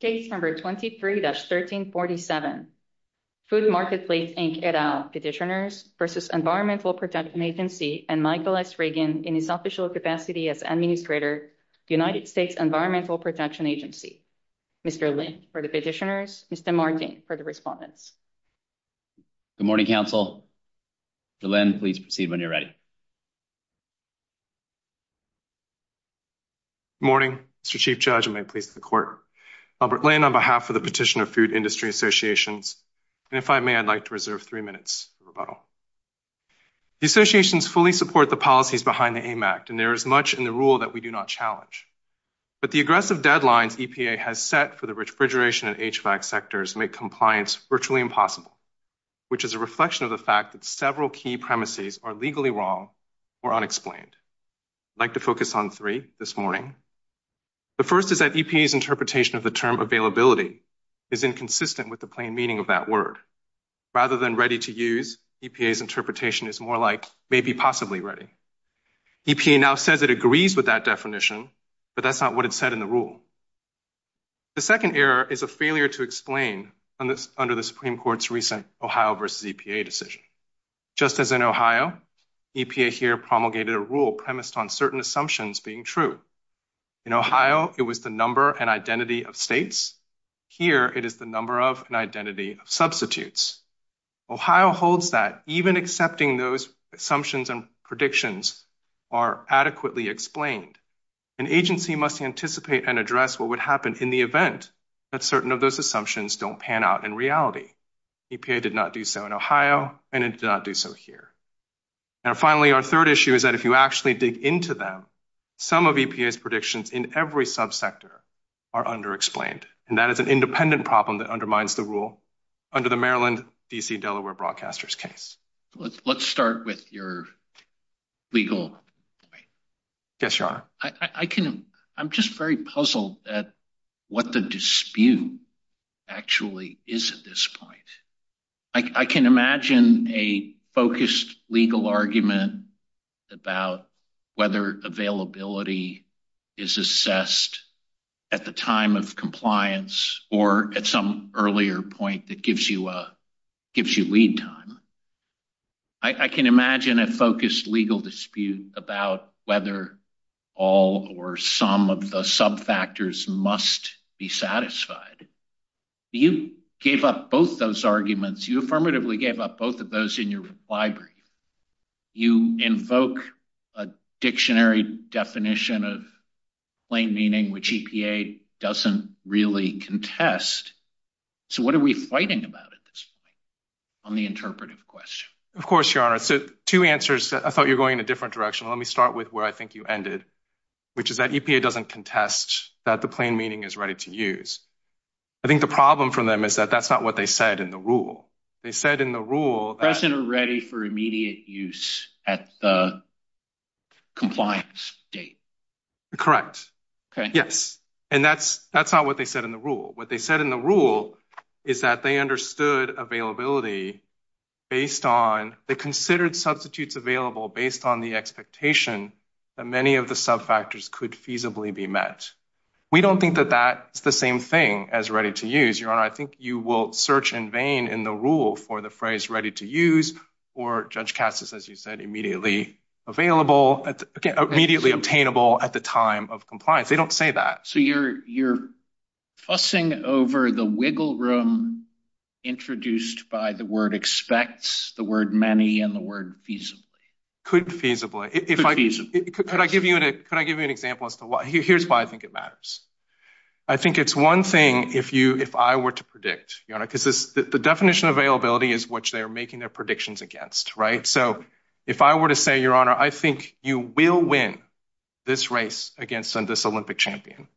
Case No. 23-1347, Food Marketplace, Inc. et al. Petitioners v. Environmental Protection Agency and Michael S. Reagan in his official capacity as Administrator, United States Environmental Protection Agency. Mr. Lin for the petitioners, Mr. Martin for the respondents. Good morning, counsel. Mr. Lin, please proceed when you're ready. Good morning, Mr. Chief Judge, and may it please the Court. I'm Robert Lin on behalf of the Petitioner Food Industry Associations, and if I may, I'd like to reserve three minutes for rebuttal. The associations fully support the policies behind the AIM Act, and there is much in the rule that we do not challenge. But the aggressive deadlines EPA has set for the refrigeration and HVAC sectors make compliance virtually impossible, which is a reflection of the fact that several key premises are legally wrong or unexplained. I'd like to focus on three this morning. The first is that EPA's interpretation of the term availability is inconsistent with the plain meaning of that word. Rather than ready to use, EPA's interpretation is more like maybe possibly ready. EPA now says it agrees with that definition, but that's not what it said in the rule. The second error is a failure to explain under the Supreme Court's recent Ohio versus EPA decision. Just as in Ohio, EPA here promulgated a rule premised on certain assumptions being true. In Ohio, it was the number and identity of states. Here, it is the number of and identity of substitutes. Ohio holds that even accepting those assumptions and predictions are adequately explained. An agency must anticipate and address what would happen in the event that certain of those assumptions don't pan out in reality. EPA did not do so in Ohio, and it did not do so here. And finally, our third issue is that if you actually dig into them, some of EPA's predictions in every subsector are underexplained. And that is an independent problem that undermines the rule under the Maryland-D.C.-Delaware Broadcasters case. Let's start with your legal point. Yes, Your Honor. I'm just very puzzled at what the dispute actually is at this point. I can imagine a focused legal argument about whether availability is assessed at the time of compliance or at some earlier point that gives you lead time. I can imagine a focused legal dispute about whether all or some of the subfactors must be satisfied. You gave up both those arguments. You affirmatively gave up both of those in your reply brief. You invoke a dictionary definition of plain meaning, which EPA doesn't really contest. So what are we fighting about at this point on the interpretive question? Of course, Your Honor. So two answers. I thought you're going in a different direction. Let me start with where I think you ended, which is that EPA doesn't contest that the plain meaning is ready to use. I think the problem for them is that that's not what they said in the rule. They said in the rule that… Present and ready for immediate use at the compliance date. Correct. Okay. Yes. And that's not what they said in the rule. What they said in the rule is that they understood availability based on… They considered substitutes available based on the expectation that many of the subfactors could feasibly be met. We don't think that that's the same thing as ready to use. Your Honor, I think you will search in vain in the rule for the phrase ready to use or, Judge Katsas, as you said, immediately available, immediately obtainable at the time of compliance. They don't say that. So you're fussing over the wiggle room introduced by the word expects, the word many, and the word feasibly. Could feasibly. Could feasibly. Could I give you an example as to why? Here's why I think it matters. I think it's one thing if I were to predict, Your Honor, because the definition of availability is what they're making their predictions against, right? So if I were to say, Your Honor, I think you will win this race against this Olympic champion,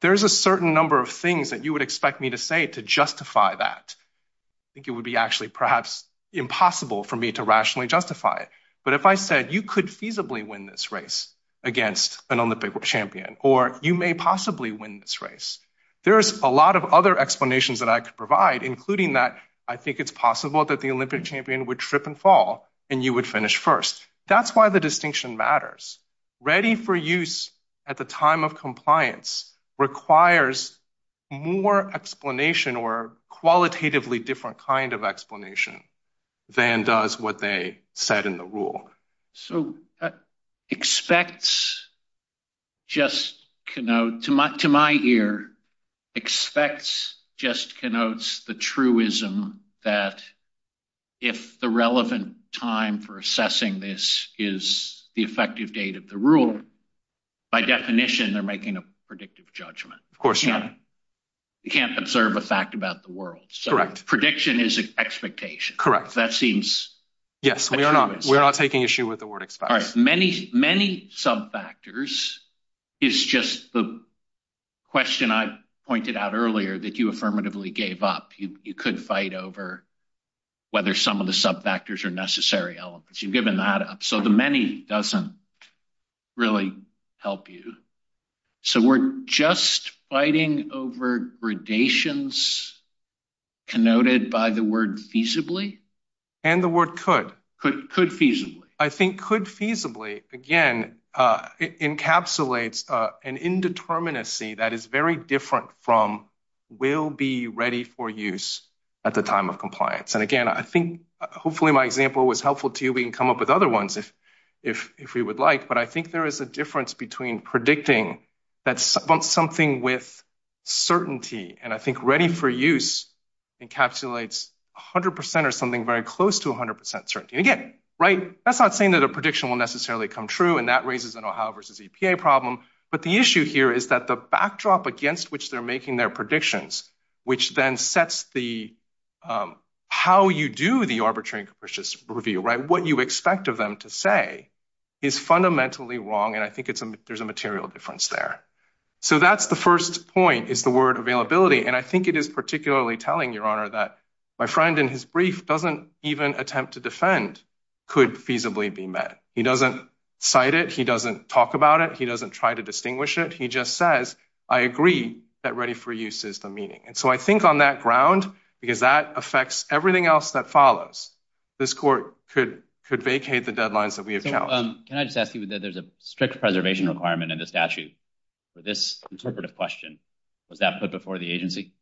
there's a certain number of things that you would expect me to say to justify that. I think it would be actually perhaps impossible for me to rationally justify it. But if I said you could feasibly win this race against an Olympic champion or you may possibly win this race, there's a lot of other explanations that I could provide, including that I think it's possible that the Olympic champion would trip and fall. And you would finish first. That's why the distinction matters. Ready for use at the time of compliance requires more explanation or qualitatively different kind of explanation than does what they said in the rule. So expects just to my ear, expects just connotes the truism that if the relevant time for assessing this is the effective date of the rule, by definition, they're making a predictive judgment. Of course, Your Honor. You can't observe a fact about the world. Correct. Prediction is expectation. Correct. Yes, we are not. We're not taking issue with the word. All right. Many, many sub factors is just the question I pointed out earlier that you affirmatively gave up. You could fight over whether some of the sub factors are necessary elements. You've given that up. So the many doesn't really help you. So we're just fighting over gradations connoted by the word feasibly. And the word could. Could feasibly. I think could feasibly, again, encapsulates an indeterminacy that is very different from will be ready for use at the time of compliance. And again, I think hopefully my example was helpful to you. We can come up with other ones if we would like. But I think there is a difference between predicting that something with certainty. And I think ready for use encapsulates 100% or something very close to 100% certainty again. Right. That's not saying that a prediction will necessarily come true. And that raises an Ohio versus EPA problem. But the issue here is that the backdrop against which they're making their predictions, which then sets the how you do the arbitrary and capricious review. Right. What you expect of them to say is fundamentally wrong. And I think there's a material difference there. So that's the first point is the word availability. And I think it is particularly telling your honor that my friend in his brief doesn't even attempt to defend could feasibly be met. He doesn't cite it. He doesn't talk about it. He doesn't try to distinguish it. He just says, I agree that ready for use is the meaning. And so I think on that ground, because that affects everything else that follows, this court could could vacate the deadlines that we have. Can I just ask you that there's a strict preservation requirement in the statute for this question? Was that put before the agency?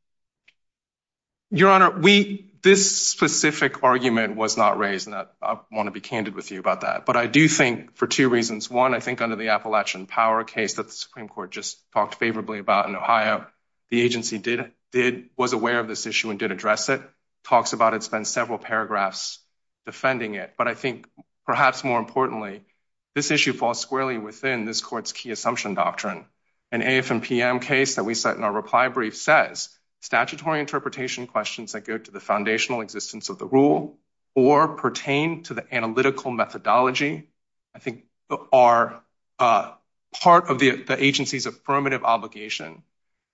Your honor, we this specific argument was not raised. I want to be candid with you about that. But I do think for two reasons. One, I think under the Appalachian power case that the Supreme Court just talked favorably about in Ohio, the agency did did was aware of this issue and did address it. Talks about it's been several paragraphs defending it. But I think perhaps more importantly, this issue falls squarely within this court's key assumption doctrine. An AFM case that we set in our reply brief says statutory interpretation questions that go to the foundational existence of the rule or pertain to the analytical methodology. I think are part of the agency's affirmative obligation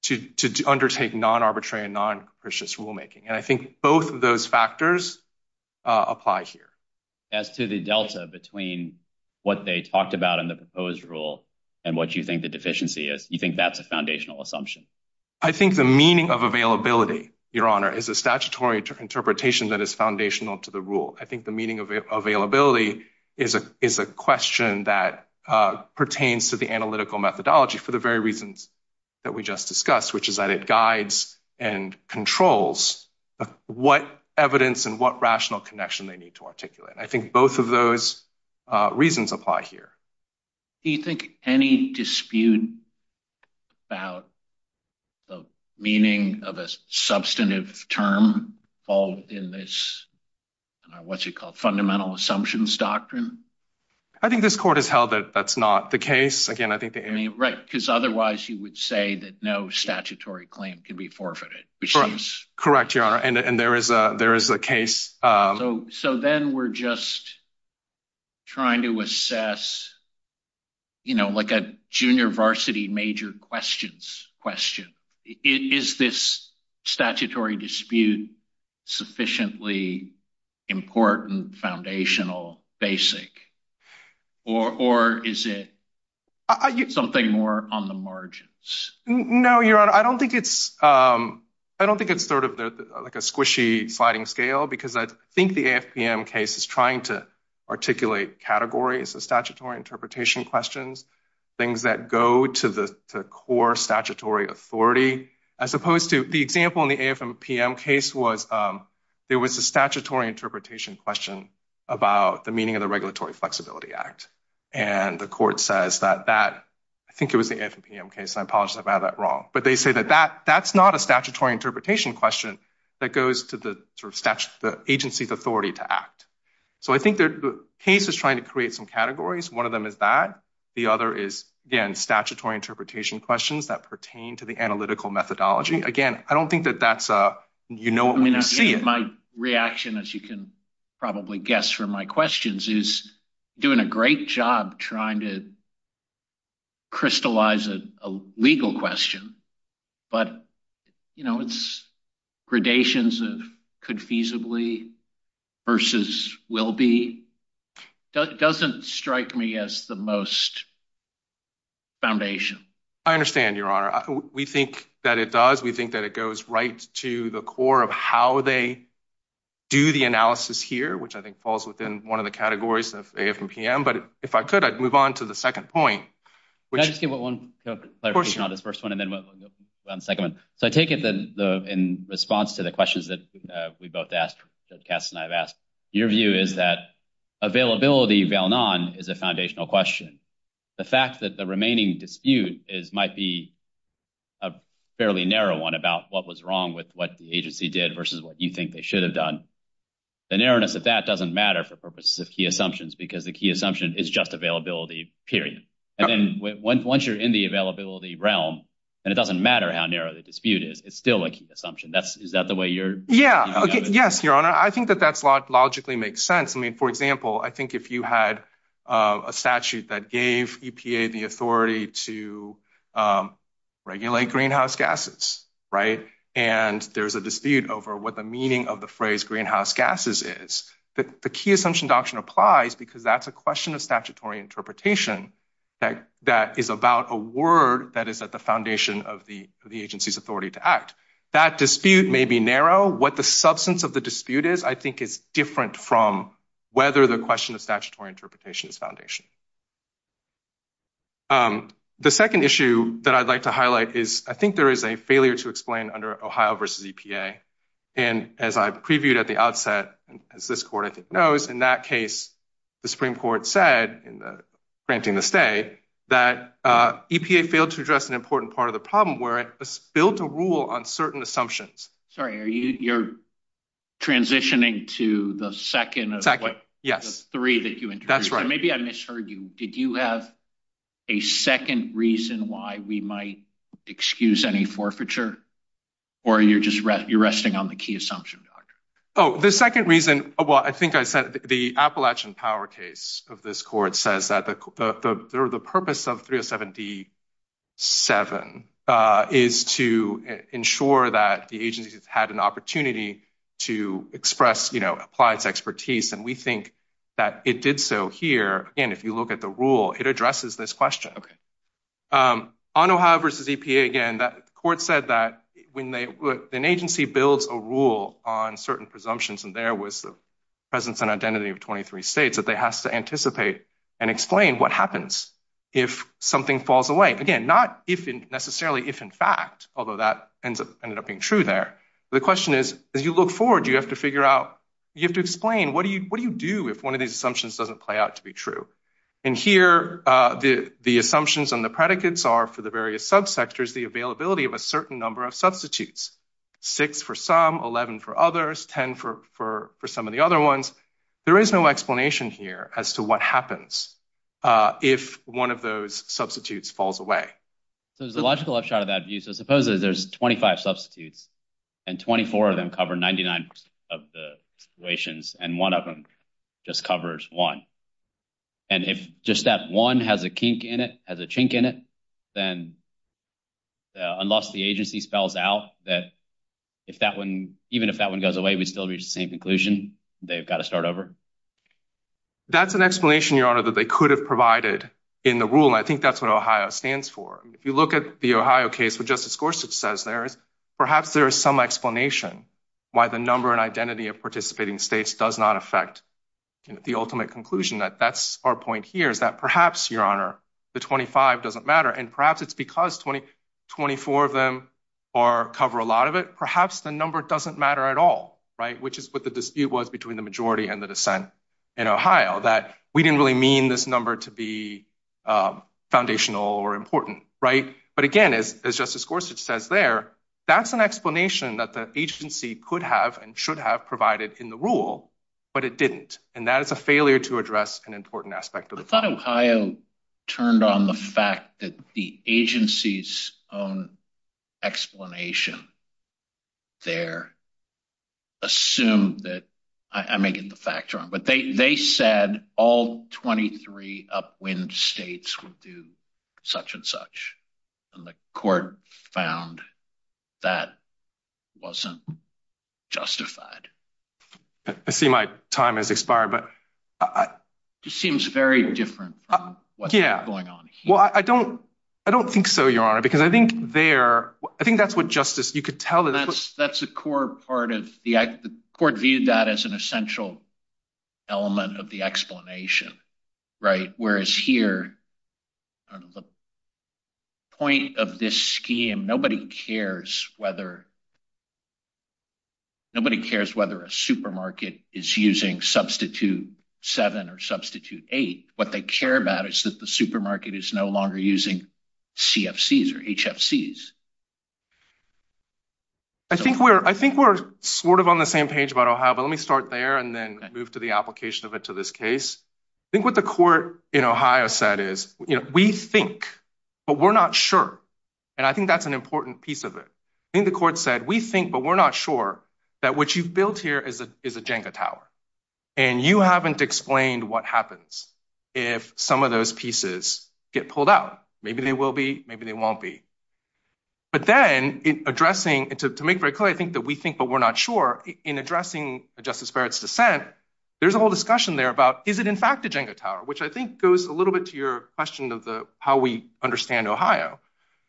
to undertake non-arbitrary and non-capricious rulemaking. And I think both of those factors apply here. As to the delta between what they talked about in the proposed rule and what you think the deficiency is, you think that's a foundational assumption? I think the meaning of availability, your honor, is a statutory interpretation that is foundational to the rule. I think the meaning of availability is a question that pertains to the analytical methodology for the very reasons that we just discussed, which is that it guides and controls what evidence and what rational connection they need to articulate. I think both of those reasons apply here. Do you think any dispute about the meaning of a substantive term fall within this fundamental assumptions doctrine? I think this court has held that that's not the case. Right, because otherwise you would say that no statutory claim can be forfeited. Correct, your honor. And there is a case. So then we're just trying to assess, you know, like a junior varsity major questions question. Is this statutory dispute sufficiently important foundational basic or is it something more on the margins? No, your honor. I don't think it's I don't think it's sort of like a squishy sliding scale because I think the AFPM case is trying to articulate categories of statutory interpretation questions, things that go to the core statutory authority. As opposed to the example in the AFPM case was there was a statutory interpretation question about the meaning of the Regulatory Flexibility Act. And the court says that that I think it was the AFPM case. I apologize about that wrong. But they say that that that's not a statutory interpretation question that goes to the agency's authority to act. So I think the case is trying to create some categories. One of them is that. The other is, again, statutory interpretation questions that pertain to the analytical methodology. Again, I don't think that that's a you know, I mean, my reaction, as you can probably guess from my questions, is doing a great job trying to. Crystallize a legal question, but, you know, it's gradations of could feasibly versus will be doesn't strike me as the most. Foundation, I understand, Your Honor, we think that it does, we think that it goes right to the core of how they do the analysis here, which I think falls within one of the categories of AFPM. But if I could, I'd move on to the second point. Can I just give one clarification on this first one and then we'll go on to the second one. So I take it that in response to the questions that we both asked, Judge Kass and I have asked, your view is that availability is a foundational question. The fact that the remaining dispute is might be a fairly narrow one about what was wrong with what the agency did versus what you think they should have done. The narrowness of that doesn't matter for purposes of key assumptions, because the key assumption is just availability, period. And then once you're in the availability realm and it doesn't matter how narrow the dispute is, it's still a key assumption. That's is that the way you're. Yeah. Yes. Your Honor, I think that that's logically makes sense. I mean, for example, I think if you had a statute that gave EPA the authority to regulate greenhouse gases. And there's a dispute over what the meaning of the phrase greenhouse gases is that the key assumption doctrine applies because that's a question of statutory interpretation. That that is about a word that is at the foundation of the agency's authority to act. That dispute may be narrow. What the substance of the dispute is, I think, is different from whether the question of statutory interpretation is foundation. The second issue that I'd like to highlight is I think there is a failure to explain under Ohio versus EPA. And as I previewed at the outset, as this court knows, in that case, the Supreme Court said in granting the stay that EPA failed to address an important part of the problem where it built a rule on certain assumptions. Sorry, you're transitioning to the second. Yes. Three. That's right. Maybe I misheard you. Did you have a second reason why we might excuse any forfeiture or you're just you're resting on the key assumption? Oh, the second reason. Well, I think I said the Appalachian power case of this court says that the purpose of three or seventy seven is to ensure that the agency has had an opportunity to express, you know, apply its expertise. And we think that it did so here. And if you look at the rule, it addresses this question. I don't have versus EPA again. The court said that when an agency builds a rule on certain presumptions and there was the presence and identity of twenty three states that they has to anticipate and explain what happens if something falls away. Again, not if necessarily if in fact, although that ends up ended up being true there. The question is, as you look forward, you have to figure out you have to explain what do you what do you do if one of these assumptions doesn't play out to be true? And here the the assumptions and the predicates are for the various subsectors, the availability of a certain number of substitutes, six for some, eleven for others, ten for for for some of the other ones. There is no explanation here as to what happens if one of those substitutes falls away. So there's a logical upshot of that view. So suppose there's twenty five substitutes and twenty four of them cover ninety nine of the situations and one of them just covers one. And if just that one has a kink in it, has a chink in it, then. Unless the agency spells out that if that one, even if that one goes away, we still reach the same conclusion they've got to start over. That's an explanation, your honor, that they could have provided in the rule. I think that's what Ohio stands for. If you look at the Ohio case, what Justice Gorsuch says there is perhaps there is some explanation why the number and identity of participating states does not affect the ultimate conclusion. That that's our point here is that perhaps your honor, the twenty five doesn't matter. And perhaps it's because twenty twenty four of them are cover a lot of it. Perhaps the number doesn't matter at all. Right. Which is what the dispute was between the majority and the dissent in Ohio that we didn't really mean this number to be foundational or important. Right. But again, as Justice Gorsuch says there, that's an explanation that the agency could have and should have provided in the rule, but it didn't. And that is a failure to address an important aspect of the Ohio turned on the fact that the agency's own explanation. They're. Assume that I may get the fact wrong, but they said all twenty three upwind states will do such and such, and the court found that wasn't justified. I see my time has expired, but it seems very different. Yeah. Well, I don't I don't think so, your honor, because I think there I think that's what justice you could tell. That's that's a core part of the court viewed that as an essential element of the explanation. I think we're I think we're sort of on the same page, but I'll have let me start there and then move to the application of it to this case. I think what the court in Ohio said is we think, but we're not sure. And I think that's an important piece of it. I think the court said, we think, but we're not sure that what you've built here is a is a Jenga tower. And you haven't explained what happens if some of those pieces get pulled out. Maybe they will be. Maybe they won't be. But then in addressing it to make very clear, I think that we think, but we're not sure in addressing a justice for its dissent. There's a whole discussion there about is it, in fact, a Jenga tower, which I think goes a little bit to your question of the how we understand Ohio.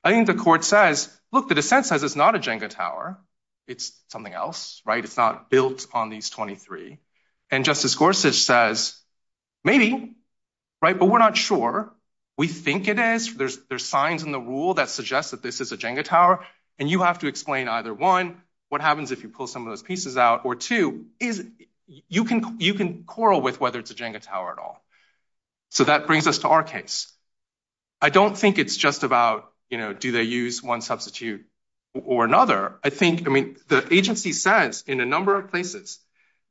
I think the court says, look, the dissent says it's not a Jenga tower. It's something else. Right. It's not built on these 23. And Justice Gorsuch says maybe. Right. But we're not sure. We think it is. There's there's signs in the rule that suggest that this is a Jenga tower. And you have to explain either one. What happens if you pull some of those pieces out or two is you can you can quarrel with whether it's a Jenga tower at all. So that brings us to our case. I don't think it's just about, you know, do they use one substitute or another? I think I mean, the agency says in a number of places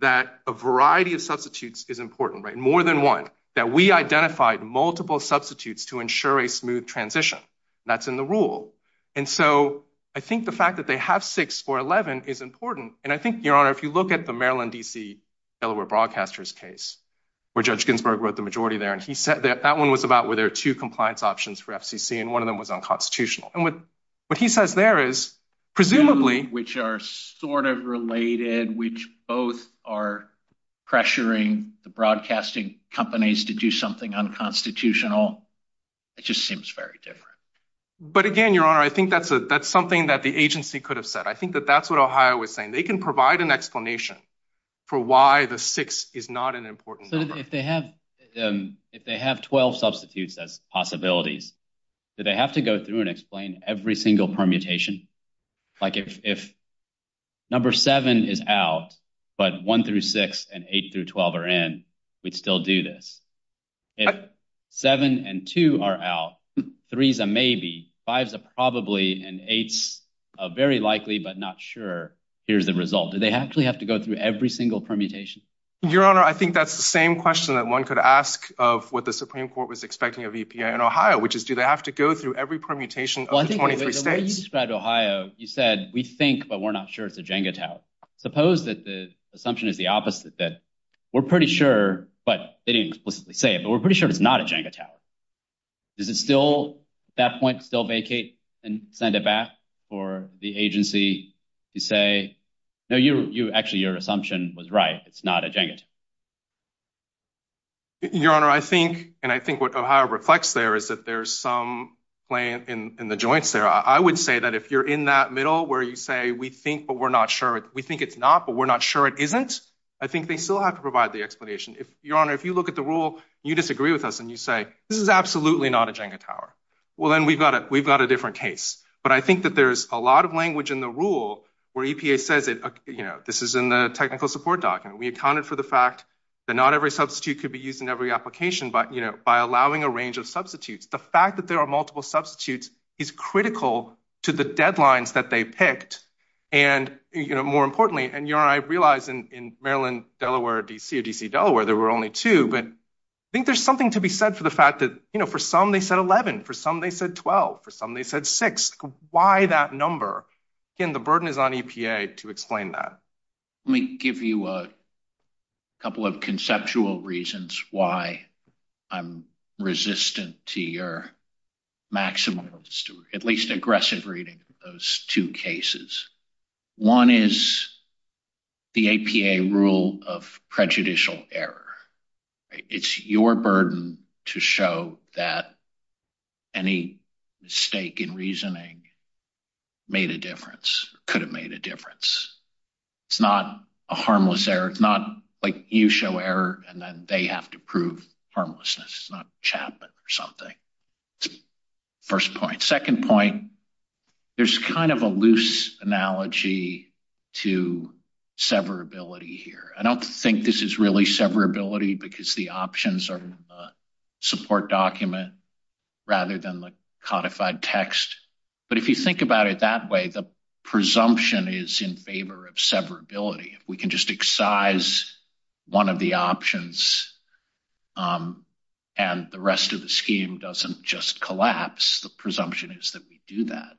that a variety of substitutes is important, right? More than one that we identified multiple substitutes to ensure a smooth transition. That's in the rule. And so I think the fact that they have six or 11 is important. And I think, Your Honor, if you look at the Maryland, D.C., Delaware broadcasters case where Judge Ginsburg wrote the majority there, and he said that that one was about where there are two compliance options for FCC and one of them was unconstitutional. And what he says there is presumably which are sort of related, which both are pressuring the broadcasting companies to do something unconstitutional. It just seems very different. But again, Your Honor, I think that's a that's something that the agency could have said. I think that that's what Ohio was saying. They can provide an explanation for why the six is not an important. If they have if they have 12 substitutes as possibilities that they have to go through and explain every single permutation, like if if number seven is out, but one through six and eight through 12 are in, we'd still do this. If seven and two are out, three's a maybe five's a probably an eight's a very likely, but not sure. Here's the result. Do they actually have to go through every single permutation? Your Honor, I think that's the same question that one could ask of what the Supreme Court was expecting of EPA and Ohio, which is, do they have to go through every permutation of 23 states? Ohio, you said we think, but we're not sure it's a Jenga tower. Suppose that the assumption is the opposite, that we're pretty sure. But they didn't explicitly say it, but we're pretty sure it's not a Jenga tower. Is it still that point still vacate and send it back for the agency to say, no, you actually your assumption was right. It's not a Jenga. Your Honor, I think and I think what Ohio reflects there is that there's some play in the joints there. I would say that if you're in that middle where you say we think, but we're not sure we think it's not, but we're not sure it isn't. I think they still have to provide the explanation. If your honor, if you look at the rule, you disagree with us and you say this is absolutely not a Jenga tower. Well, then we've got it. We've got a different case. But I think that there's a lot of language in the rule where EPA says, you know, this is in the technical support document. We accounted for the fact that not every substitute could be used in every application. But, you know, by allowing a range of substitutes, the fact that there are multiple substitutes is critical to the deadlines that they picked. And, you know, more importantly, and your I realize in Maryland, Delaware, D.C., D.C., Delaware, there were only two. But I think there's something to be said for the fact that, you know, for some they said 11, for some they said 12, for some they said six. Why that number? And the burden is on EPA to explain that. Let me give you a couple of conceptual reasons why I'm resistant to your maximum, at least aggressive reading of those two cases. One is the APA rule of prejudicial error. It's your burden to show that any mistake in reasoning made a difference, could have made a difference. It's not a harmless error. It's not like you show error and then they have to prove harmlessness. It's not Chapman or something. First point. Second point, there's kind of a loose analogy to severability here. I don't think this is really severability because the options are support document rather than the codified text. But if you think about it that way, the presumption is in favor of severability. If we can just excise one of the options and the rest of the scheme doesn't just collapse, the presumption is that we do that.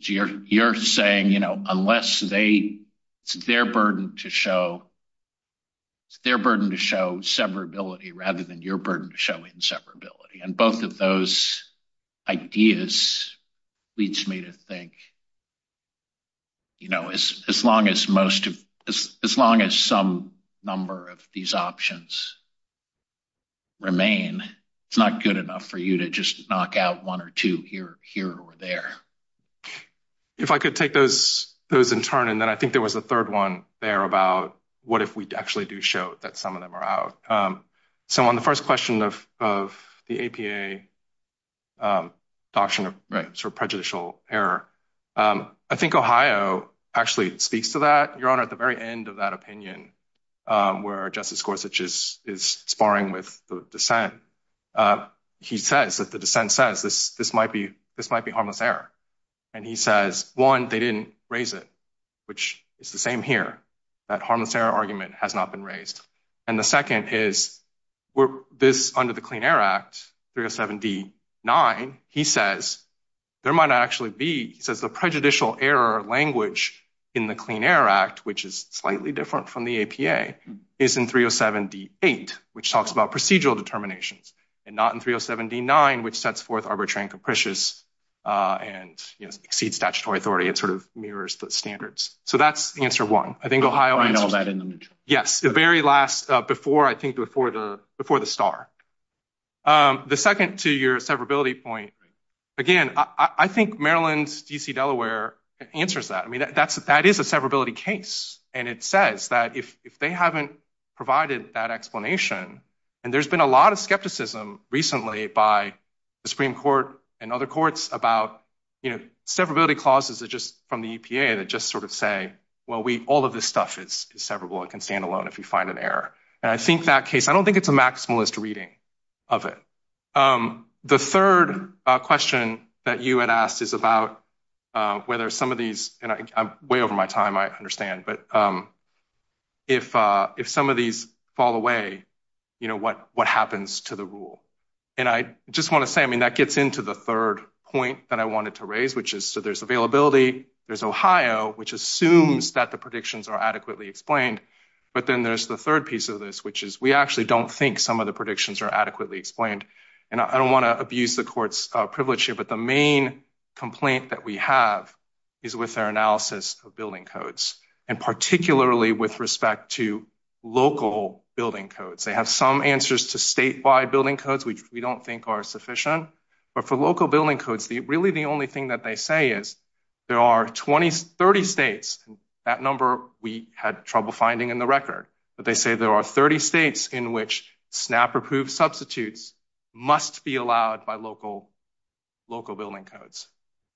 So you're saying, you know, unless they it's their burden to show. It's their burden to show severability rather than your burden to show inseparability. And both of those ideas leads me to think. You know, as long as most of as long as some number of these options. Remain, it's not good enough for you to just knock out one or two here, here or there. If I could take those those in turn, and then I think there was a third one there about what if we actually do show that some of them are out. So on the first question of of the APA. Doctrine for prejudicial error. I think Ohio actually speaks to that. Your Honor, at the very end of that opinion, where Justice Gorsuch is sparring with dissent. He says that the dissent says this, this might be this might be harmless error. And he says, one, they didn't raise it, which is the same here. That harmless error argument has not been raised. And the second is where this under the Clean Air Act, 307 D9. He says there might actually be, he says, the prejudicial error language in the Clean Air Act, which is slightly different from the APA is in 307 D8. Which talks about procedural determinations and not in 307 D9, which sets forth arbitrary and capricious and exceeds statutory authority. It sort of mirrors the standards. So that's answer one. I think Ohio. Yes. The very last before I think before the before the star. The second to your severability point. Again, I think Maryland's D.C., Delaware answers that. I mean, that's that is a severability case. And it says that if they haven't provided that explanation. And there's been a lot of skepticism recently by the Supreme Court and other courts about severability clauses that just from the EPA that just sort of say, well, we all of this stuff is severable. It can stand alone if you find an error. And I think that case, I don't think it's a maximalist reading of it. The third question that you had asked is about whether some of these way over my time, I understand. But if if some of these fall away, you know what what happens to the rule? And I just want to say, I mean, that gets into the third point that I wanted to raise, which is so there's availability. There's Ohio, which assumes that the predictions are adequately explained. But then there's the third piece of this, which is we actually don't think some of the predictions are adequately explained. And I don't want to abuse the court's privilege here, but the main complaint that we have is with our analysis of building codes and particularly with respect to local building codes. They have some answers to statewide building codes, which we don't think are sufficient. But for local building codes, the really the only thing that they say is there are 20, 30 states. That number we had trouble finding in the record. But they say there are 30 states in which SNAP approved substitutes must be allowed by local local building codes.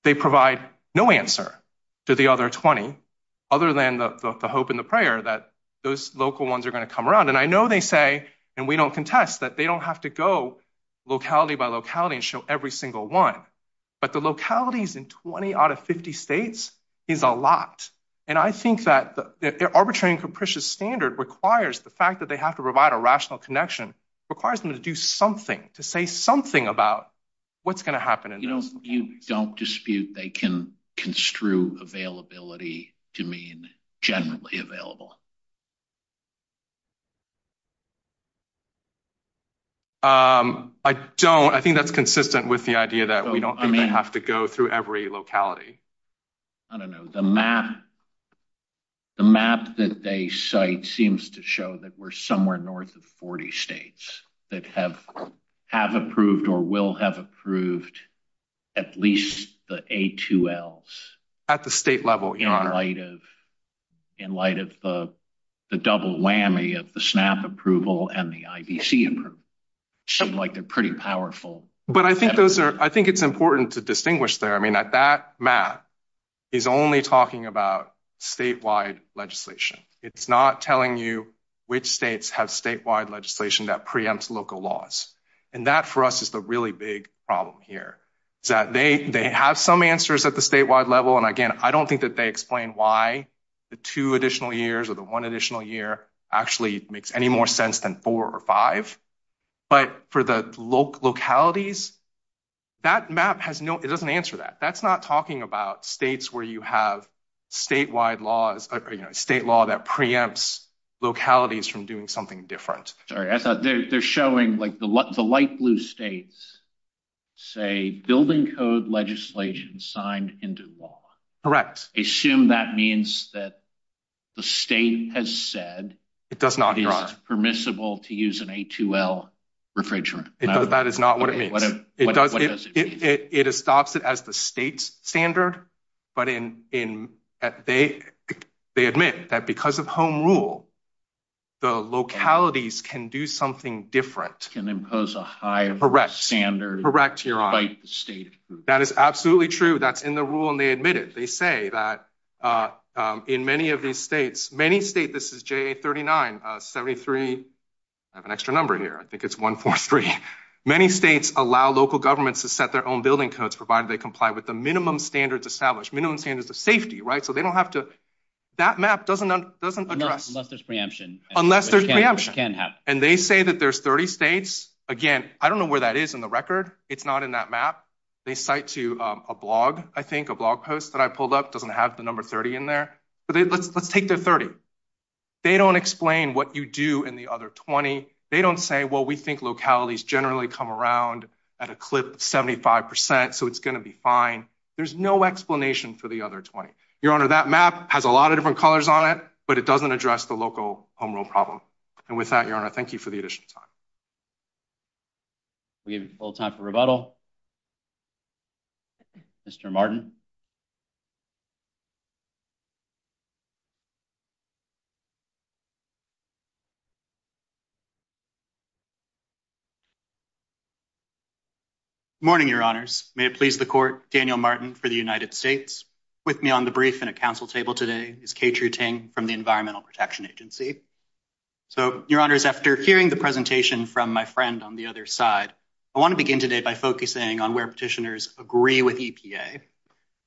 They provide no answer to the other 20 other than the hope and the prayer that those local ones are going to come around. And I know they say and we don't contest that they don't have to go locality by locality and show every single one. But the localities in 20 out of 50 states is a lot. And I think that the arbitrary and capricious standard requires the fact that they have to provide a rational connection, requires them to do something to say something about what's going to happen. You know, you don't dispute they can construe availability to mean generally available. I don't I think that's consistent with the idea that we don't have to go through every locality. I don't know the map. The map that they cite seems to show that we're somewhere north of 40 states that have have approved or will have approved at least the A2L at the state level in light of in light of the double whammy of the SNAP approval and the IBC. Like, they're pretty powerful. But I think those are I think it's important to distinguish there. I mean, that that map is only talking about statewide legislation. It's not telling you which states have statewide legislation that preempts local laws. And that for us is the really big problem here is that they have some answers at the statewide level. And again, I don't think that they explain why the two additional years or the one additional year actually makes any more sense than four or five. But for the localities, that map has no it doesn't answer that. That's not talking about states where you have statewide laws, state law that preempts localities from doing something different. Sorry, I thought they're showing like the light blue states say building code legislation signed into law. Assume that means that the state has said it does not be permissible to use an A2L refrigerant. That is not what it means. It does. It stops it as the state's standard. But they admit that because of home rule, the localities can do something different. Can impose a higher standard. Correct. That is absolutely true. That's in the rule. And they admit it. They say that in many of these states, many states, this is J39, 73. I have an extra number here. I think it's 143. Many states allow local governments to set their own building codes provided they comply with the minimum standards established. Minimum standards of safety, right? So they don't have to. That map doesn't address. Unless there's preemption. Unless there's preemption. Which can happen. And they say that there's 30 states. Again, I don't know where that is in the record. It's not in that map. They cite to a blog, I think, a blog post that I pulled up. Doesn't have the number 30 in there. But let's take the 30. They don't explain what you do in the other 20. They don't say, well, we think localities generally come around at a clip of 75%. So it's going to be fine. There's no explanation for the other 20. Your Honor, that map has a lot of different colors on it. But it doesn't address the local home rule problem. And with that, Your Honor, thank you for the additional time. We have a little time for rebuttal. Mr. Martin. Morning, Your Honors. May it please the Court. Daniel Martin for the United States. With me on the brief in a council table today is Ketra Ting from the Environmental Protection Agency. So, Your Honors, after hearing the presentation from my friend on the other side, I want to begin today by focusing on where petitioners agree with EPA.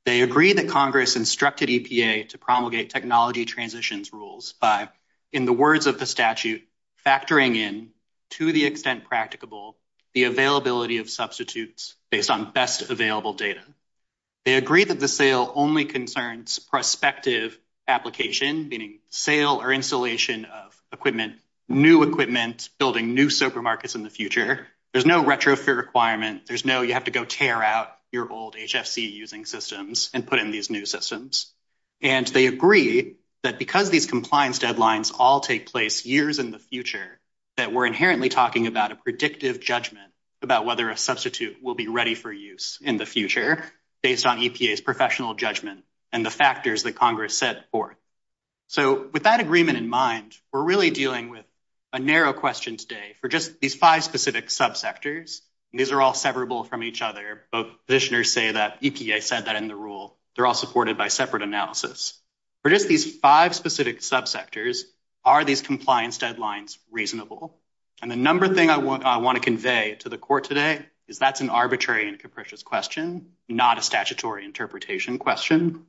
They agree that Congress instructed EPA to promulgate technology transitions rules by, in the words of the statute, factoring in, to the extent practicable, the availability of substitutes based on best available data. They agree that the sale only concerns prospective application, meaning sale or installation of equipment, new equipment, building new supermarkets in the future. There's no retrofit requirement. There's no you have to go tear out your old HFC using systems and put in these new systems. And they agree that because these compliance deadlines all take place years in the future, that we're inherently talking about a predictive judgment about whether a substitute will be ready for use in the future based on EPA's professional judgment and the factors that Congress set forth. So, with that agreement in mind, we're really dealing with a narrow question today for just these five specific subsectors. These are all severable from each other. Both petitioners say that EPA said that in the rule. They're all supported by separate analysis. For just these five specific subsectors, are these compliance deadlines reasonable? And the number thing I want to convey to the court today is that's an arbitrary and capricious question, not a statutory interpretation question,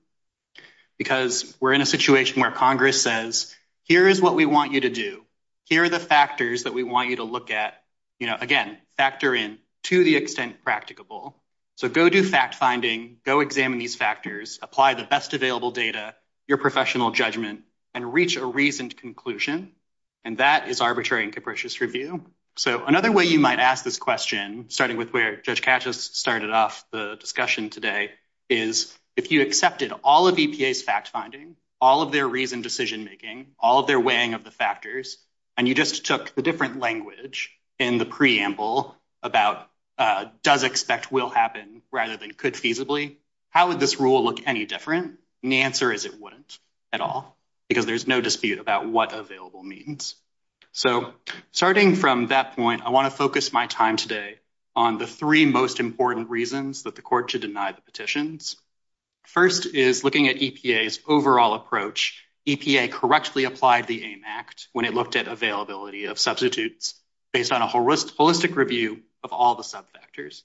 because we're in a situation where Congress says, here is what we want you to do. Here are the factors that we want you to look at. Again, factor in to the extent practicable. So, go do fact finding, go examine these factors, apply the best available data, your professional judgment, and reach a reasoned conclusion. And that is arbitrary and capricious review. So, another way you might ask this question, starting with where Judge Katchis started off the discussion today, is if you accepted all of EPA's fact finding, all of their reasoned decision making, all of their weighing of the factors, and you just took the different language in the preamble about does expect will happen rather than could feasibly, how would this rule look any different? And the answer is it wouldn't at all, because there's no dispute about what available means. So, starting from that point, I want to focus my time today on the three most important reasons that the court should deny the petitions. First is looking at EPA's overall approach. EPA correctly applied the AIM Act when it looked at availability of substitutes based on a holistic review of all the sub factors.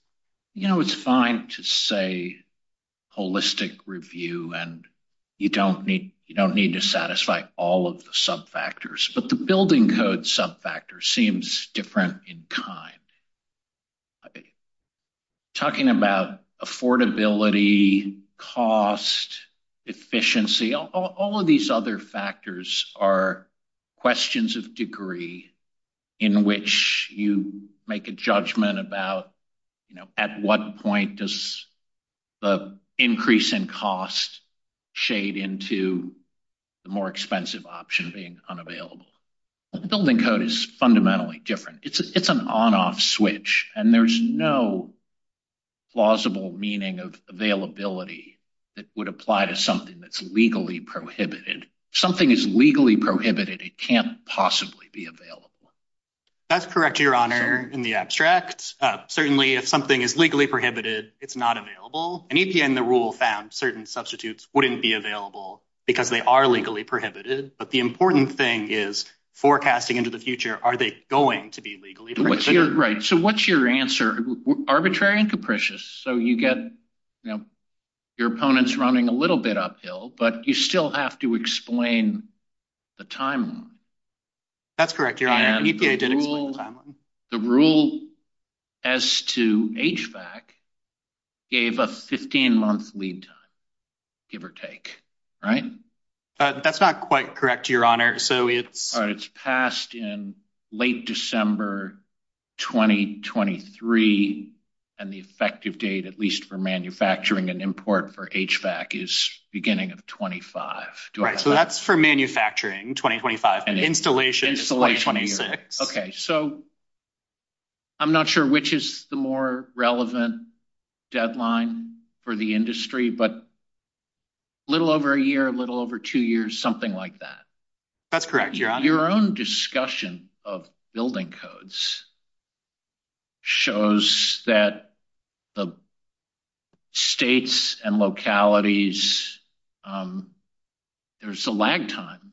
But the building code sub factor seems different in kind. Talking about affordability, cost, efficiency, all of these other factors are questions of degree in which you make a judgment about, you know, at what point does the increase in cost shade into the more expensive option being unavailable. The building code is fundamentally different. It's an on-off switch, and there's no plausible meaning of availability that would apply to something that's legally prohibited. If something is legally prohibited, it can't possibly be available. That's correct, Your Honor, in the abstract. Certainly, if something is legally prohibited, it's not available. And EPA, in the rule, found certain substitutes wouldn't be available because they are legally prohibited. But the important thing is forecasting into the future, are they going to be legally prohibited? Right. So, what's your answer? Arbitrary and capricious. So, you get your opponents running a little bit uphill, but you still have to explain the timeline. That's correct, Your Honor. EPA did explain the timeline. The rule as to HVAC gave a 15-month lead time, give or take, right? That's not quite correct, Your Honor. So, it's… All right. It's passed in late December 2023, and the effective date, at least for manufacturing and import for HVAC, is beginning of 2025. Right. So, that's for manufacturing, 2025, and installation is 2026. Okay. So, I'm not sure which is the more relevant deadline for the industry, but a little over a year, a little over two years, something like that. That's correct, Your Honor. Your own discussion of building codes shows that the states and localities, there's a lag time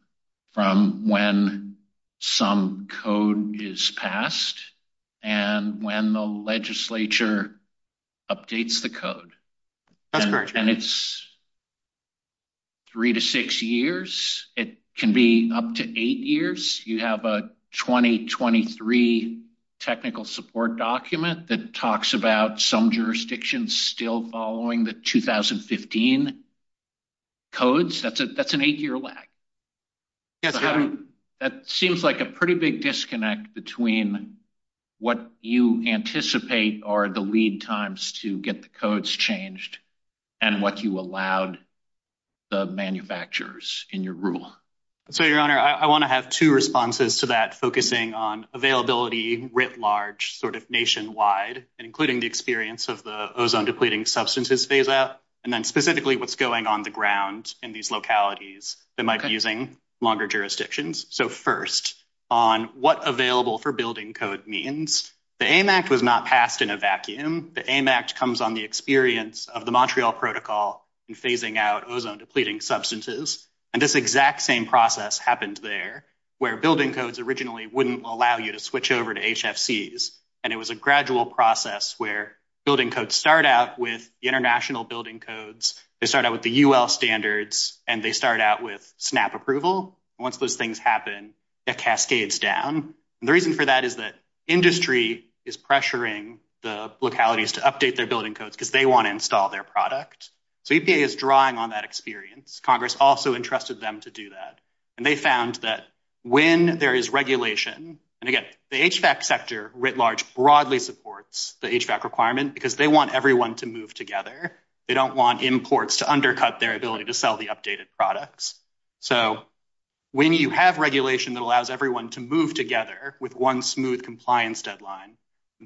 from when some code is passed and when the legislature updates the code. That's correct. And it's three to six years. It can be up to eight years. You have a 2023 technical support document that talks about some jurisdictions still following the 2015 codes. That's an eight-year lag. Yes, Your Honor. That seems like a pretty big disconnect between what you anticipate are the lead times to get the codes changed and what you allowed the manufacturers in your rule. So, Your Honor, I want to have two responses to that, focusing on availability writ large nationwide, including the experience of the ozone-depleting substances phase-out, and then specifically what's going on the ground in these localities that might be using longer jurisdictions. So, first, on what available for building code means, the AIM Act was not passed in a vacuum. The AIM Act comes on the experience of the Montreal Protocol and phasing out ozone-depleting substances. And this exact same process happened there, where building codes originally wouldn't allow you to switch over to HFCs. And it was a gradual process where building codes start out with international building codes. They start out with the UL standards, and they start out with SNAP approval. Once those things happen, it cascades down. And the reason for that is that industry is pressuring the localities to update their building codes because they want to install their product. So EPA is drawing on that experience. Congress also entrusted them to do that. And they found that when there is regulation—and again, the HVAC sector writ large broadly supports the HVAC requirement because they want everyone to move together. They don't want imports to undercut their ability to sell the updated products. So when you have regulation that allows everyone to move together with one smooth compliance deadline,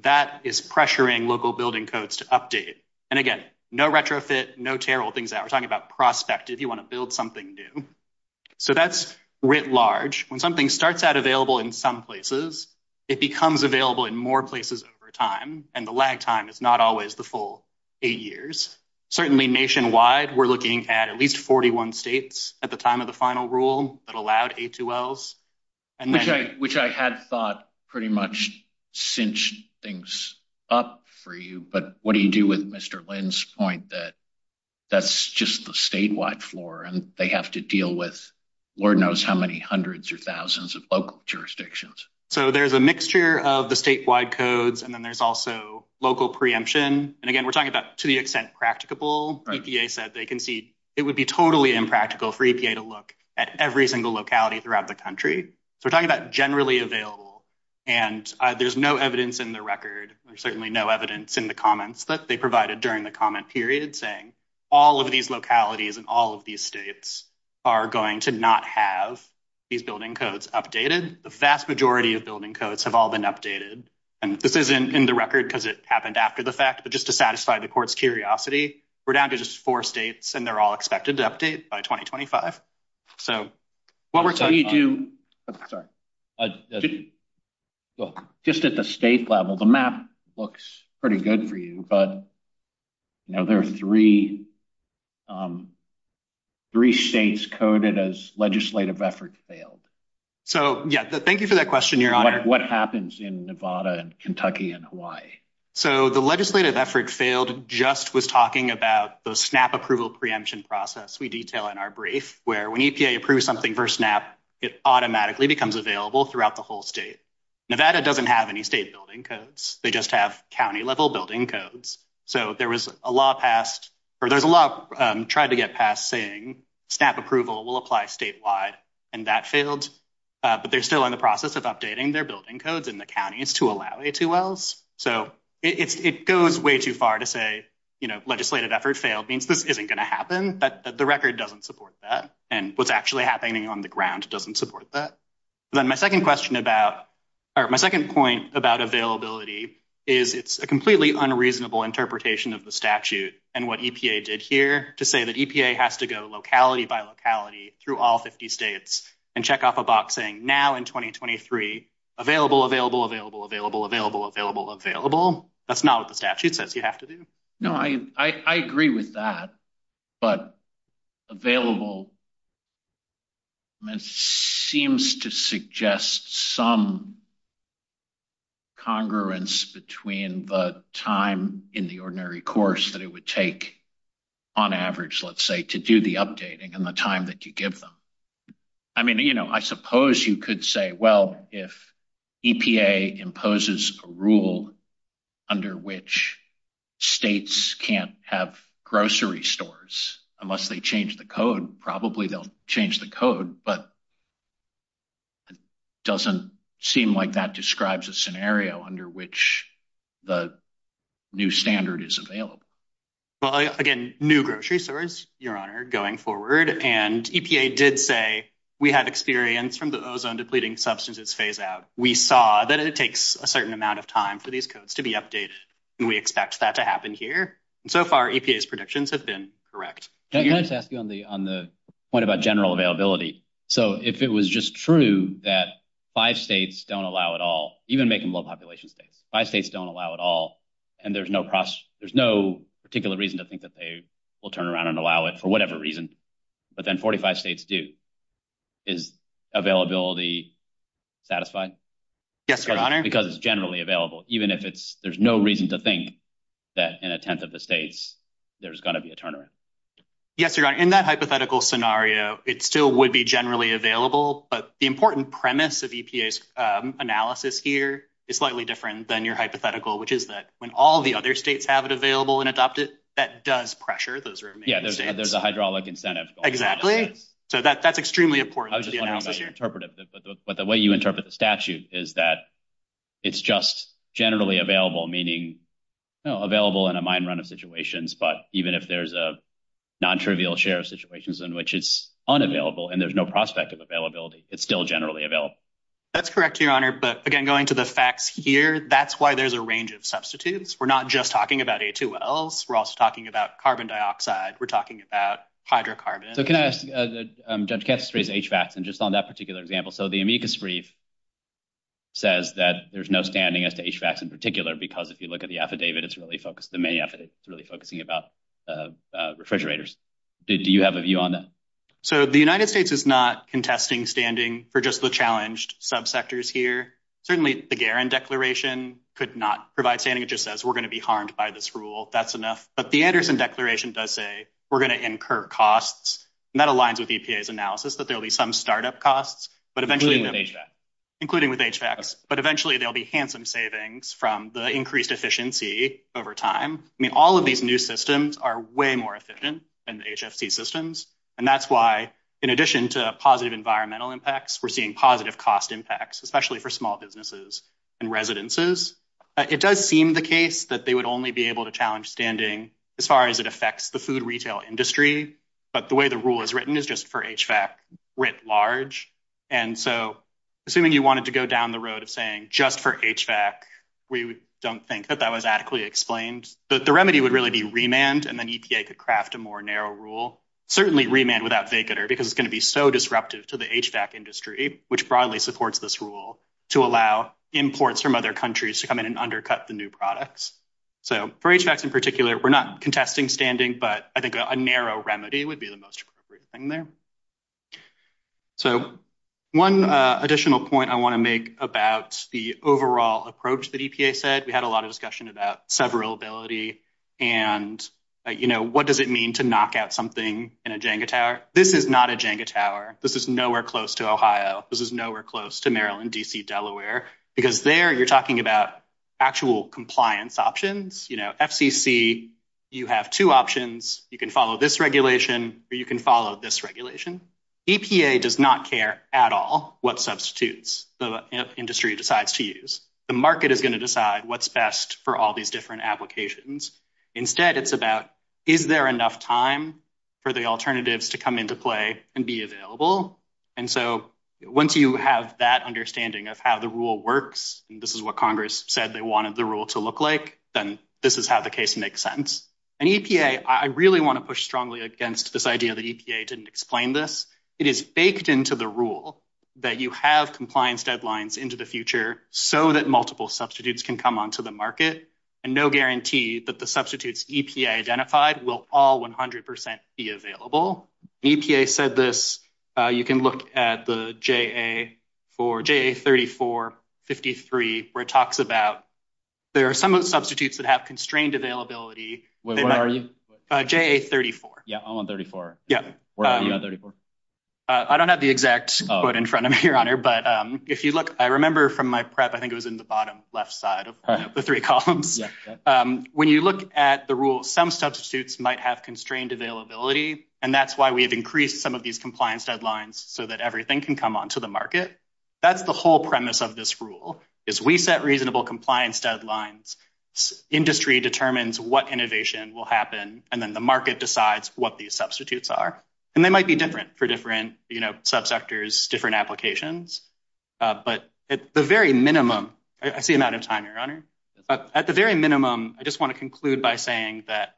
that is pressuring local building codes to update. And again, no retrofit, no tear old things out. We're talking about prospective. You want to build something new. So that's writ large. When something starts out available in some places, it becomes available in more places over time. And the lag time is not always the full eight years. Certainly nationwide, we're looking at at least 41 states at the time of the final rule that allowed A2Ls. Which I had thought pretty much cinched things up for you, but what do you do with Mr. Lynn's point that that's just the statewide floor and they have to deal with Lord knows how many hundreds or thousands of local jurisdictions? So there's a mixture of the statewide codes, and then there's also local preemption. And again, we're talking about to the extent practicable. EPA said they can see it would be totally impractical for EPA to look at every single locality throughout the country. So we're talking about generally available, and there's no evidence in the record. There's certainly no evidence in the comments that they provided during the comment period saying all of these localities and all of these states are going to not have these building codes updated. The vast majority of building codes have all been updated, and this isn't in the record because it happened after the fact, but just to satisfy the court's curiosity, we're down to just four states, and they're all expected to update by 2025. So, what we're telling you do, sorry. Just at the state level, the map looks pretty good for you, but. Now, there are 3. 3 states coded as legislative effort failed. So, yeah, thank you for that question. You're on what happens in Nevada and Kentucky and Hawaii. So, the legislative effort failed just was talking about the snap approval preemption process. We detail in our brief where we need to approve something for snap. It automatically becomes available throughout the whole state. Nevada doesn't have any state building codes. They just have county level building codes. So there was a law passed, or there's a lot tried to get past saying snap approval will apply statewide. And that failed, but they're still in the process of updating their building codes in the counties to allow a 2 wells. So it's, it goes way too far to say. You know, legislative effort failed means this isn't going to happen, but the record doesn't support that. And what's actually happening on the ground doesn't support that. Then my 2nd question about, or my 2nd point about availability is it's a completely unreasonable interpretation of the statute. And what did here to say that has to go locality by locality through all 50 states and check off a box saying now in 2023 available available available available available available available available. That's not what the statute says you have to do. No, I, I, I agree with that. But available. Seems to suggest some congruence between the time in the ordinary course that it would take on average, let's say, to do the updating and the time that you give them. I mean, you know, I suppose you could say, well, if EPA imposes a rule. Under which states can't have grocery stores, unless they change the code, probably they'll change the code, but. It doesn't seem like that describes a scenario under which the new standard is available. Well, again, new grocery stores, your honor going forward and EPA did say we have experience from the ozone depleting substances phase out. We saw that it takes a certain amount of time for these codes to be updated. And we expect that to happen here. And so far, EPA's predictions have been correct. Can I just ask you on the, on the point about general availability? So, if it was just true that five states don't allow it all, even make them low population states, five states don't allow it all. And there's no, there's no particular reason to think that they will turn around and allow it for whatever reason. But then 45 states do is availability satisfied. Yes, your honor, because it's generally available, even if it's, there's no reason to think that in a 10th of the states, there's gonna be a turnaround. Yes, your honor in that hypothetical scenario, it still would be generally available. But the important premise of EPA's analysis here is slightly different than your hypothetical, which is that when all the other states have it available and adopt it, that does pressure. Those are yeah, there's a hydraulic incentive. Exactly. Okay, so that that's extremely important interpretive. But the way you interpret the statute is that it's just generally available, meaning available in a mind run of situations. But even if there's a non trivial share of situations in which it's unavailable, and there's no prospect of availability, it's still generally available. That's correct. Your honor. But again, going to the facts here, that's why there's a range of substitutes. We're not just talking about a two else. We're also talking about carbon dioxide. We're talking about hydrocarbon. So, can I ask judge catchphrase HVACs and just on that particular example? So, the amicus brief says that there's no standing as to HVACs in particular, because if you look at the affidavit, it's really focused. The main effort is really focusing about refrigerators. Do you have a view on that? So, the United States is not contesting standing for just the challenged subsectors here. Certainly, the declaration could not provide standing. It just says we're going to be harmed by this rule. That's enough. But the Anderson declaration does say we're going to incur costs. And that aligns with EPA's analysis that there'll be some startup costs, but eventually, including with HVACs, but eventually there'll be handsome savings from the increased efficiency over time. I mean, all of these new systems are way more efficient than the HFC systems. And that's why, in addition to positive environmental impacts, we're seeing positive cost impacts, especially for small businesses and residences. It does seem the case that they would only be able to challenge standing as far as it affects the food retail industry. But the way the rule is written is just for HVAC writ large. And so, assuming you wanted to go down the road of saying just for HVAC, we don't think that that was adequately explained. The remedy would really be remand, and then EPA could craft a more narrow rule. Certainly, remand without vacater, because it's going to be so disruptive to the HVAC industry, which broadly supports this rule to allow imports from other countries to come in and undercut the new products. So, for HVACs in particular, we're not contesting standing, but I think a narrow remedy would be the most appropriate thing there. So, one additional point I want to make about the overall approach that EPA said, we had a lot of discussion about severability and what does it mean to knock out something in a Jenga tower? This is not a Jenga tower. This is nowhere close to Ohio. This is nowhere close to Maryland, D.C., Delaware. Because there, you're talking about actual compliance options. FCC, you have two options. You can follow this regulation or you can follow this regulation. EPA does not care at all what substitutes the industry decides to use. The market is going to decide what's best for all these different applications. Instead, it's about, is there enough time for the alternatives to come into play and be available? And so, once you have that understanding of how the rule works, and this is what Congress said they wanted the rule to look like, then this is how the case makes sense. And EPA, I really want to push strongly against this idea that EPA didn't explain this. It is baked into the rule that you have compliance deadlines into the future so that multiple substitutes can come onto the market. And no guarantee that the substitutes EPA identified will all 100% be available. EPA said this, you can look at the JA 3453, where it talks about, there are some substitutes that have constrained availability. Where are you? JA 34. Yeah, I'm on 34. Yeah. Where are you on 34? I don't have the exact quote in front of me, Your Honor, but if you look, I remember from my prep, I think it was in the bottom left side of the three columns. When you look at the rule, some substitutes might have constrained availability, and that's why we have increased some of these compliance deadlines so that everything can come onto the market. That's the whole premise of this rule, is we set reasonable compliance deadlines. Industry determines what innovation will happen, and then the market decides what these substitutes are. And they might be different for different subsectors, different applications. But at the very minimum, I see I'm out of time, Your Honor. At the very minimum, I just want to conclude by saying that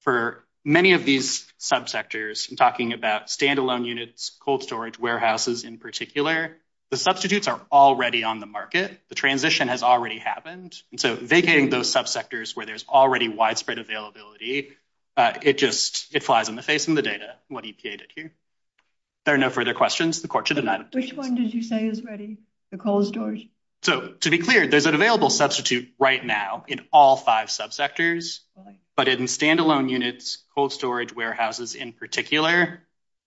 for many of these subsectors, I'm talking about standalone units, cold storage, warehouses in particular, the substitutes are already on the market. The transition has already happened. And so vacating those subsectors where there's already widespread availability, it flies in the face of the data, what EPA did here. There are no further questions. The court should admit it. Which one did you say is ready? The cold storage? So to be clear, there's an available substitute right now in all five subsectors. But in standalone units, cold storage, warehouses in particular,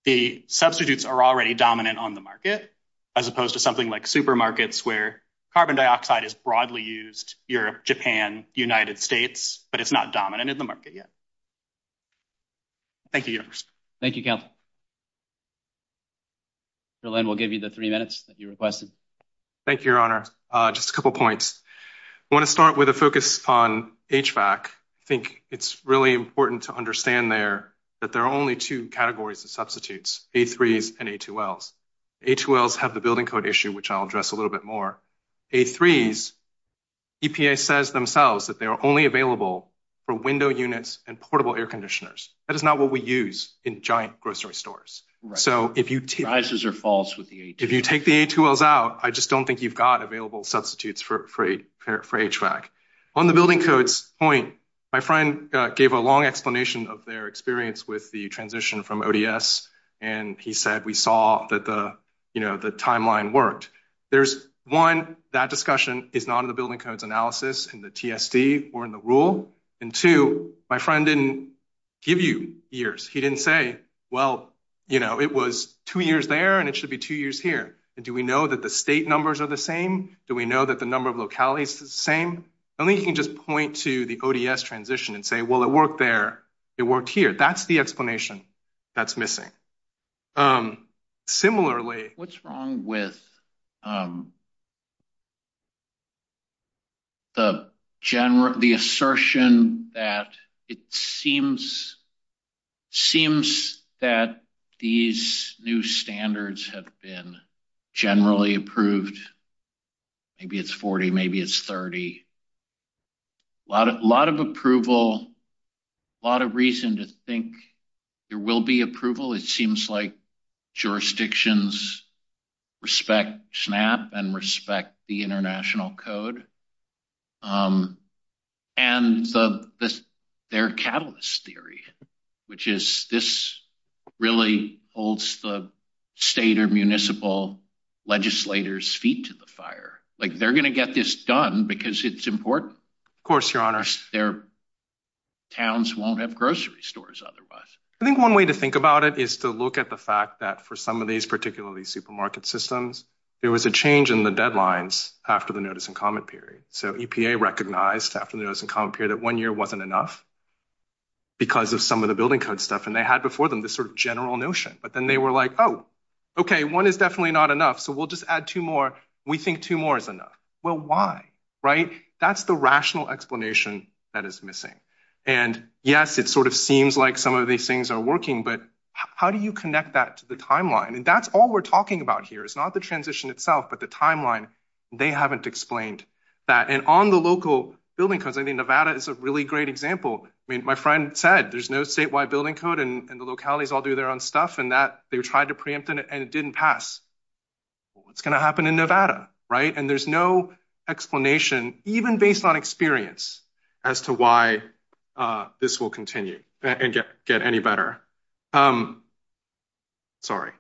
the substitutes are already dominant on the market, as opposed to something like supermarkets where carbon dioxide is broadly used, Europe, Japan, United States, but it's not dominant in the market yet. Thank you. Thank you. We'll give you the three minutes that you requested. Thank you, Your Honor. Just a couple points. I want to start with a focus on HVAC. I think it's really important to understand there that there are only two categories of substitutes, A3s and A2Ls. A2Ls have the building code issue, which I'll address a little bit more. A3s, EPA says themselves that they are only available for window units and portable air conditioners. That is not what we use in giant grocery stores. So if you take the A2Ls out, I just don't think you've got available substitutes for A2Ls. On the building codes point, my friend gave a long explanation of their experience with the transition from ODS, and he said we saw that the timeline worked. One, that discussion is not in the building codes analysis, in the TSD, or in the rule. And two, my friend didn't give you years. He didn't say, well, it was two years there, and it should be two years here. And do we know that the state numbers are the same? Do we know that the number of localities is the same? I think you can just point to the ODS transition and say, well, it worked there. It worked here. That's the explanation that's missing. Similarly. What's wrong with the assertion that it seems that these new standards have been generally approved? Maybe it's 40. Maybe it's 30. A lot of approval. A lot of reason to think there will be approval. It seems like jurisdictions respect SNAP and respect the International Code. And their catalyst theory, which is this really holds the state or municipal legislators' feet to the fire. Like, they're going to get this done because it's important. Of course, Your Honor. Their towns won't have grocery stores otherwise. I think one way to think about it is to look at the fact that for some of these particularly supermarket systems, there was a change in the deadlines after the notice and comment period. So EPA recognized after the notice and comment period that one year wasn't enough because of some of the building code stuff. And they had before them this sort of general notion. But then they were like, oh, okay, one is definitely not enough, so we'll just add two more. We think two more is enough. Well, why? Right? That's the rational explanation that is missing. And, yes, it sort of seems like some of these things are working, but how do you connect that to the timeline? And that's all we're talking about here is not the transition itself, but the timeline. They haven't explained that. And on the local building codes, I think Nevada is a really great example. I mean, my friend said there's no statewide building code, and the localities all do their own stuff. And they tried to preempt it, and it didn't pass. What's going to happen in Nevada? Right? And there's no explanation, even based on experience, as to why this will continue and get any better. Sorry.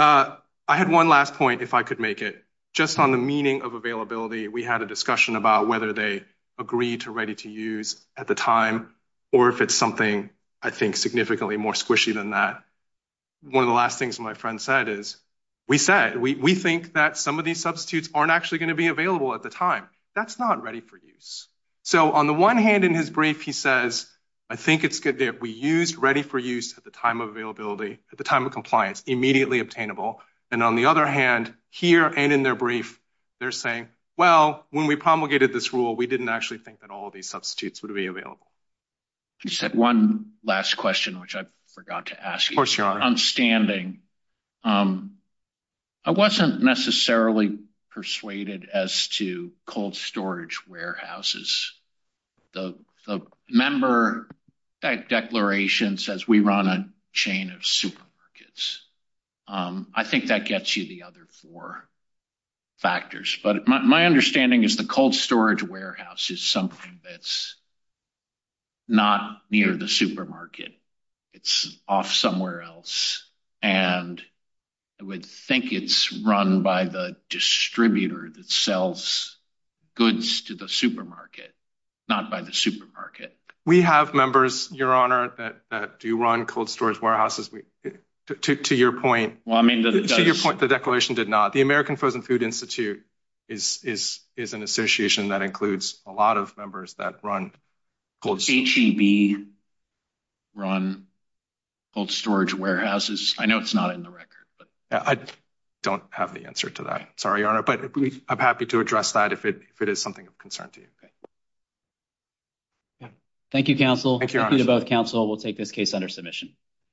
I had one last point, if I could make it. Just on the meaning of availability, we had a discussion about whether they agreed to ready to use at the time or if it's something, I think, significantly more squishy than that. One of the last things my friend said is, we said, we think that some of these substitutes aren't actually going to be available at the time. That's not ready for use. So on the one hand, in his brief, he says, I think it's good that we used ready for use at the time of availability, at the time of compliance, immediately obtainable. And on the other hand, here and in their brief, they're saying, well, when we promulgated this rule, we didn't actually think that all of these substitutes would be available. One last question, which I forgot to ask. Of course, Your Honor. I'm standing. I wasn't necessarily persuaded as to cold storage warehouses. The member declaration says we run a chain of supermarkets. I think that gets you the other four factors. But my understanding is the cold storage warehouse is something that's not near the supermarket. It's off somewhere else. And I would think it's run by the distributor that sells goods to the supermarket, not by the supermarket. We have members, Your Honor, that do run cold storage warehouses. To your point, the declaration did not. The American Frozen Food Institute is an association that includes a lot of members that run cold storage. HEB run cold storage warehouses. I know it's not in the record. I don't have the answer to that. Sorry, Your Honor. But I'm happy to address that if it is something of concern to you. Thank you, counsel. Thank you to both counsel. We'll take this case under submission.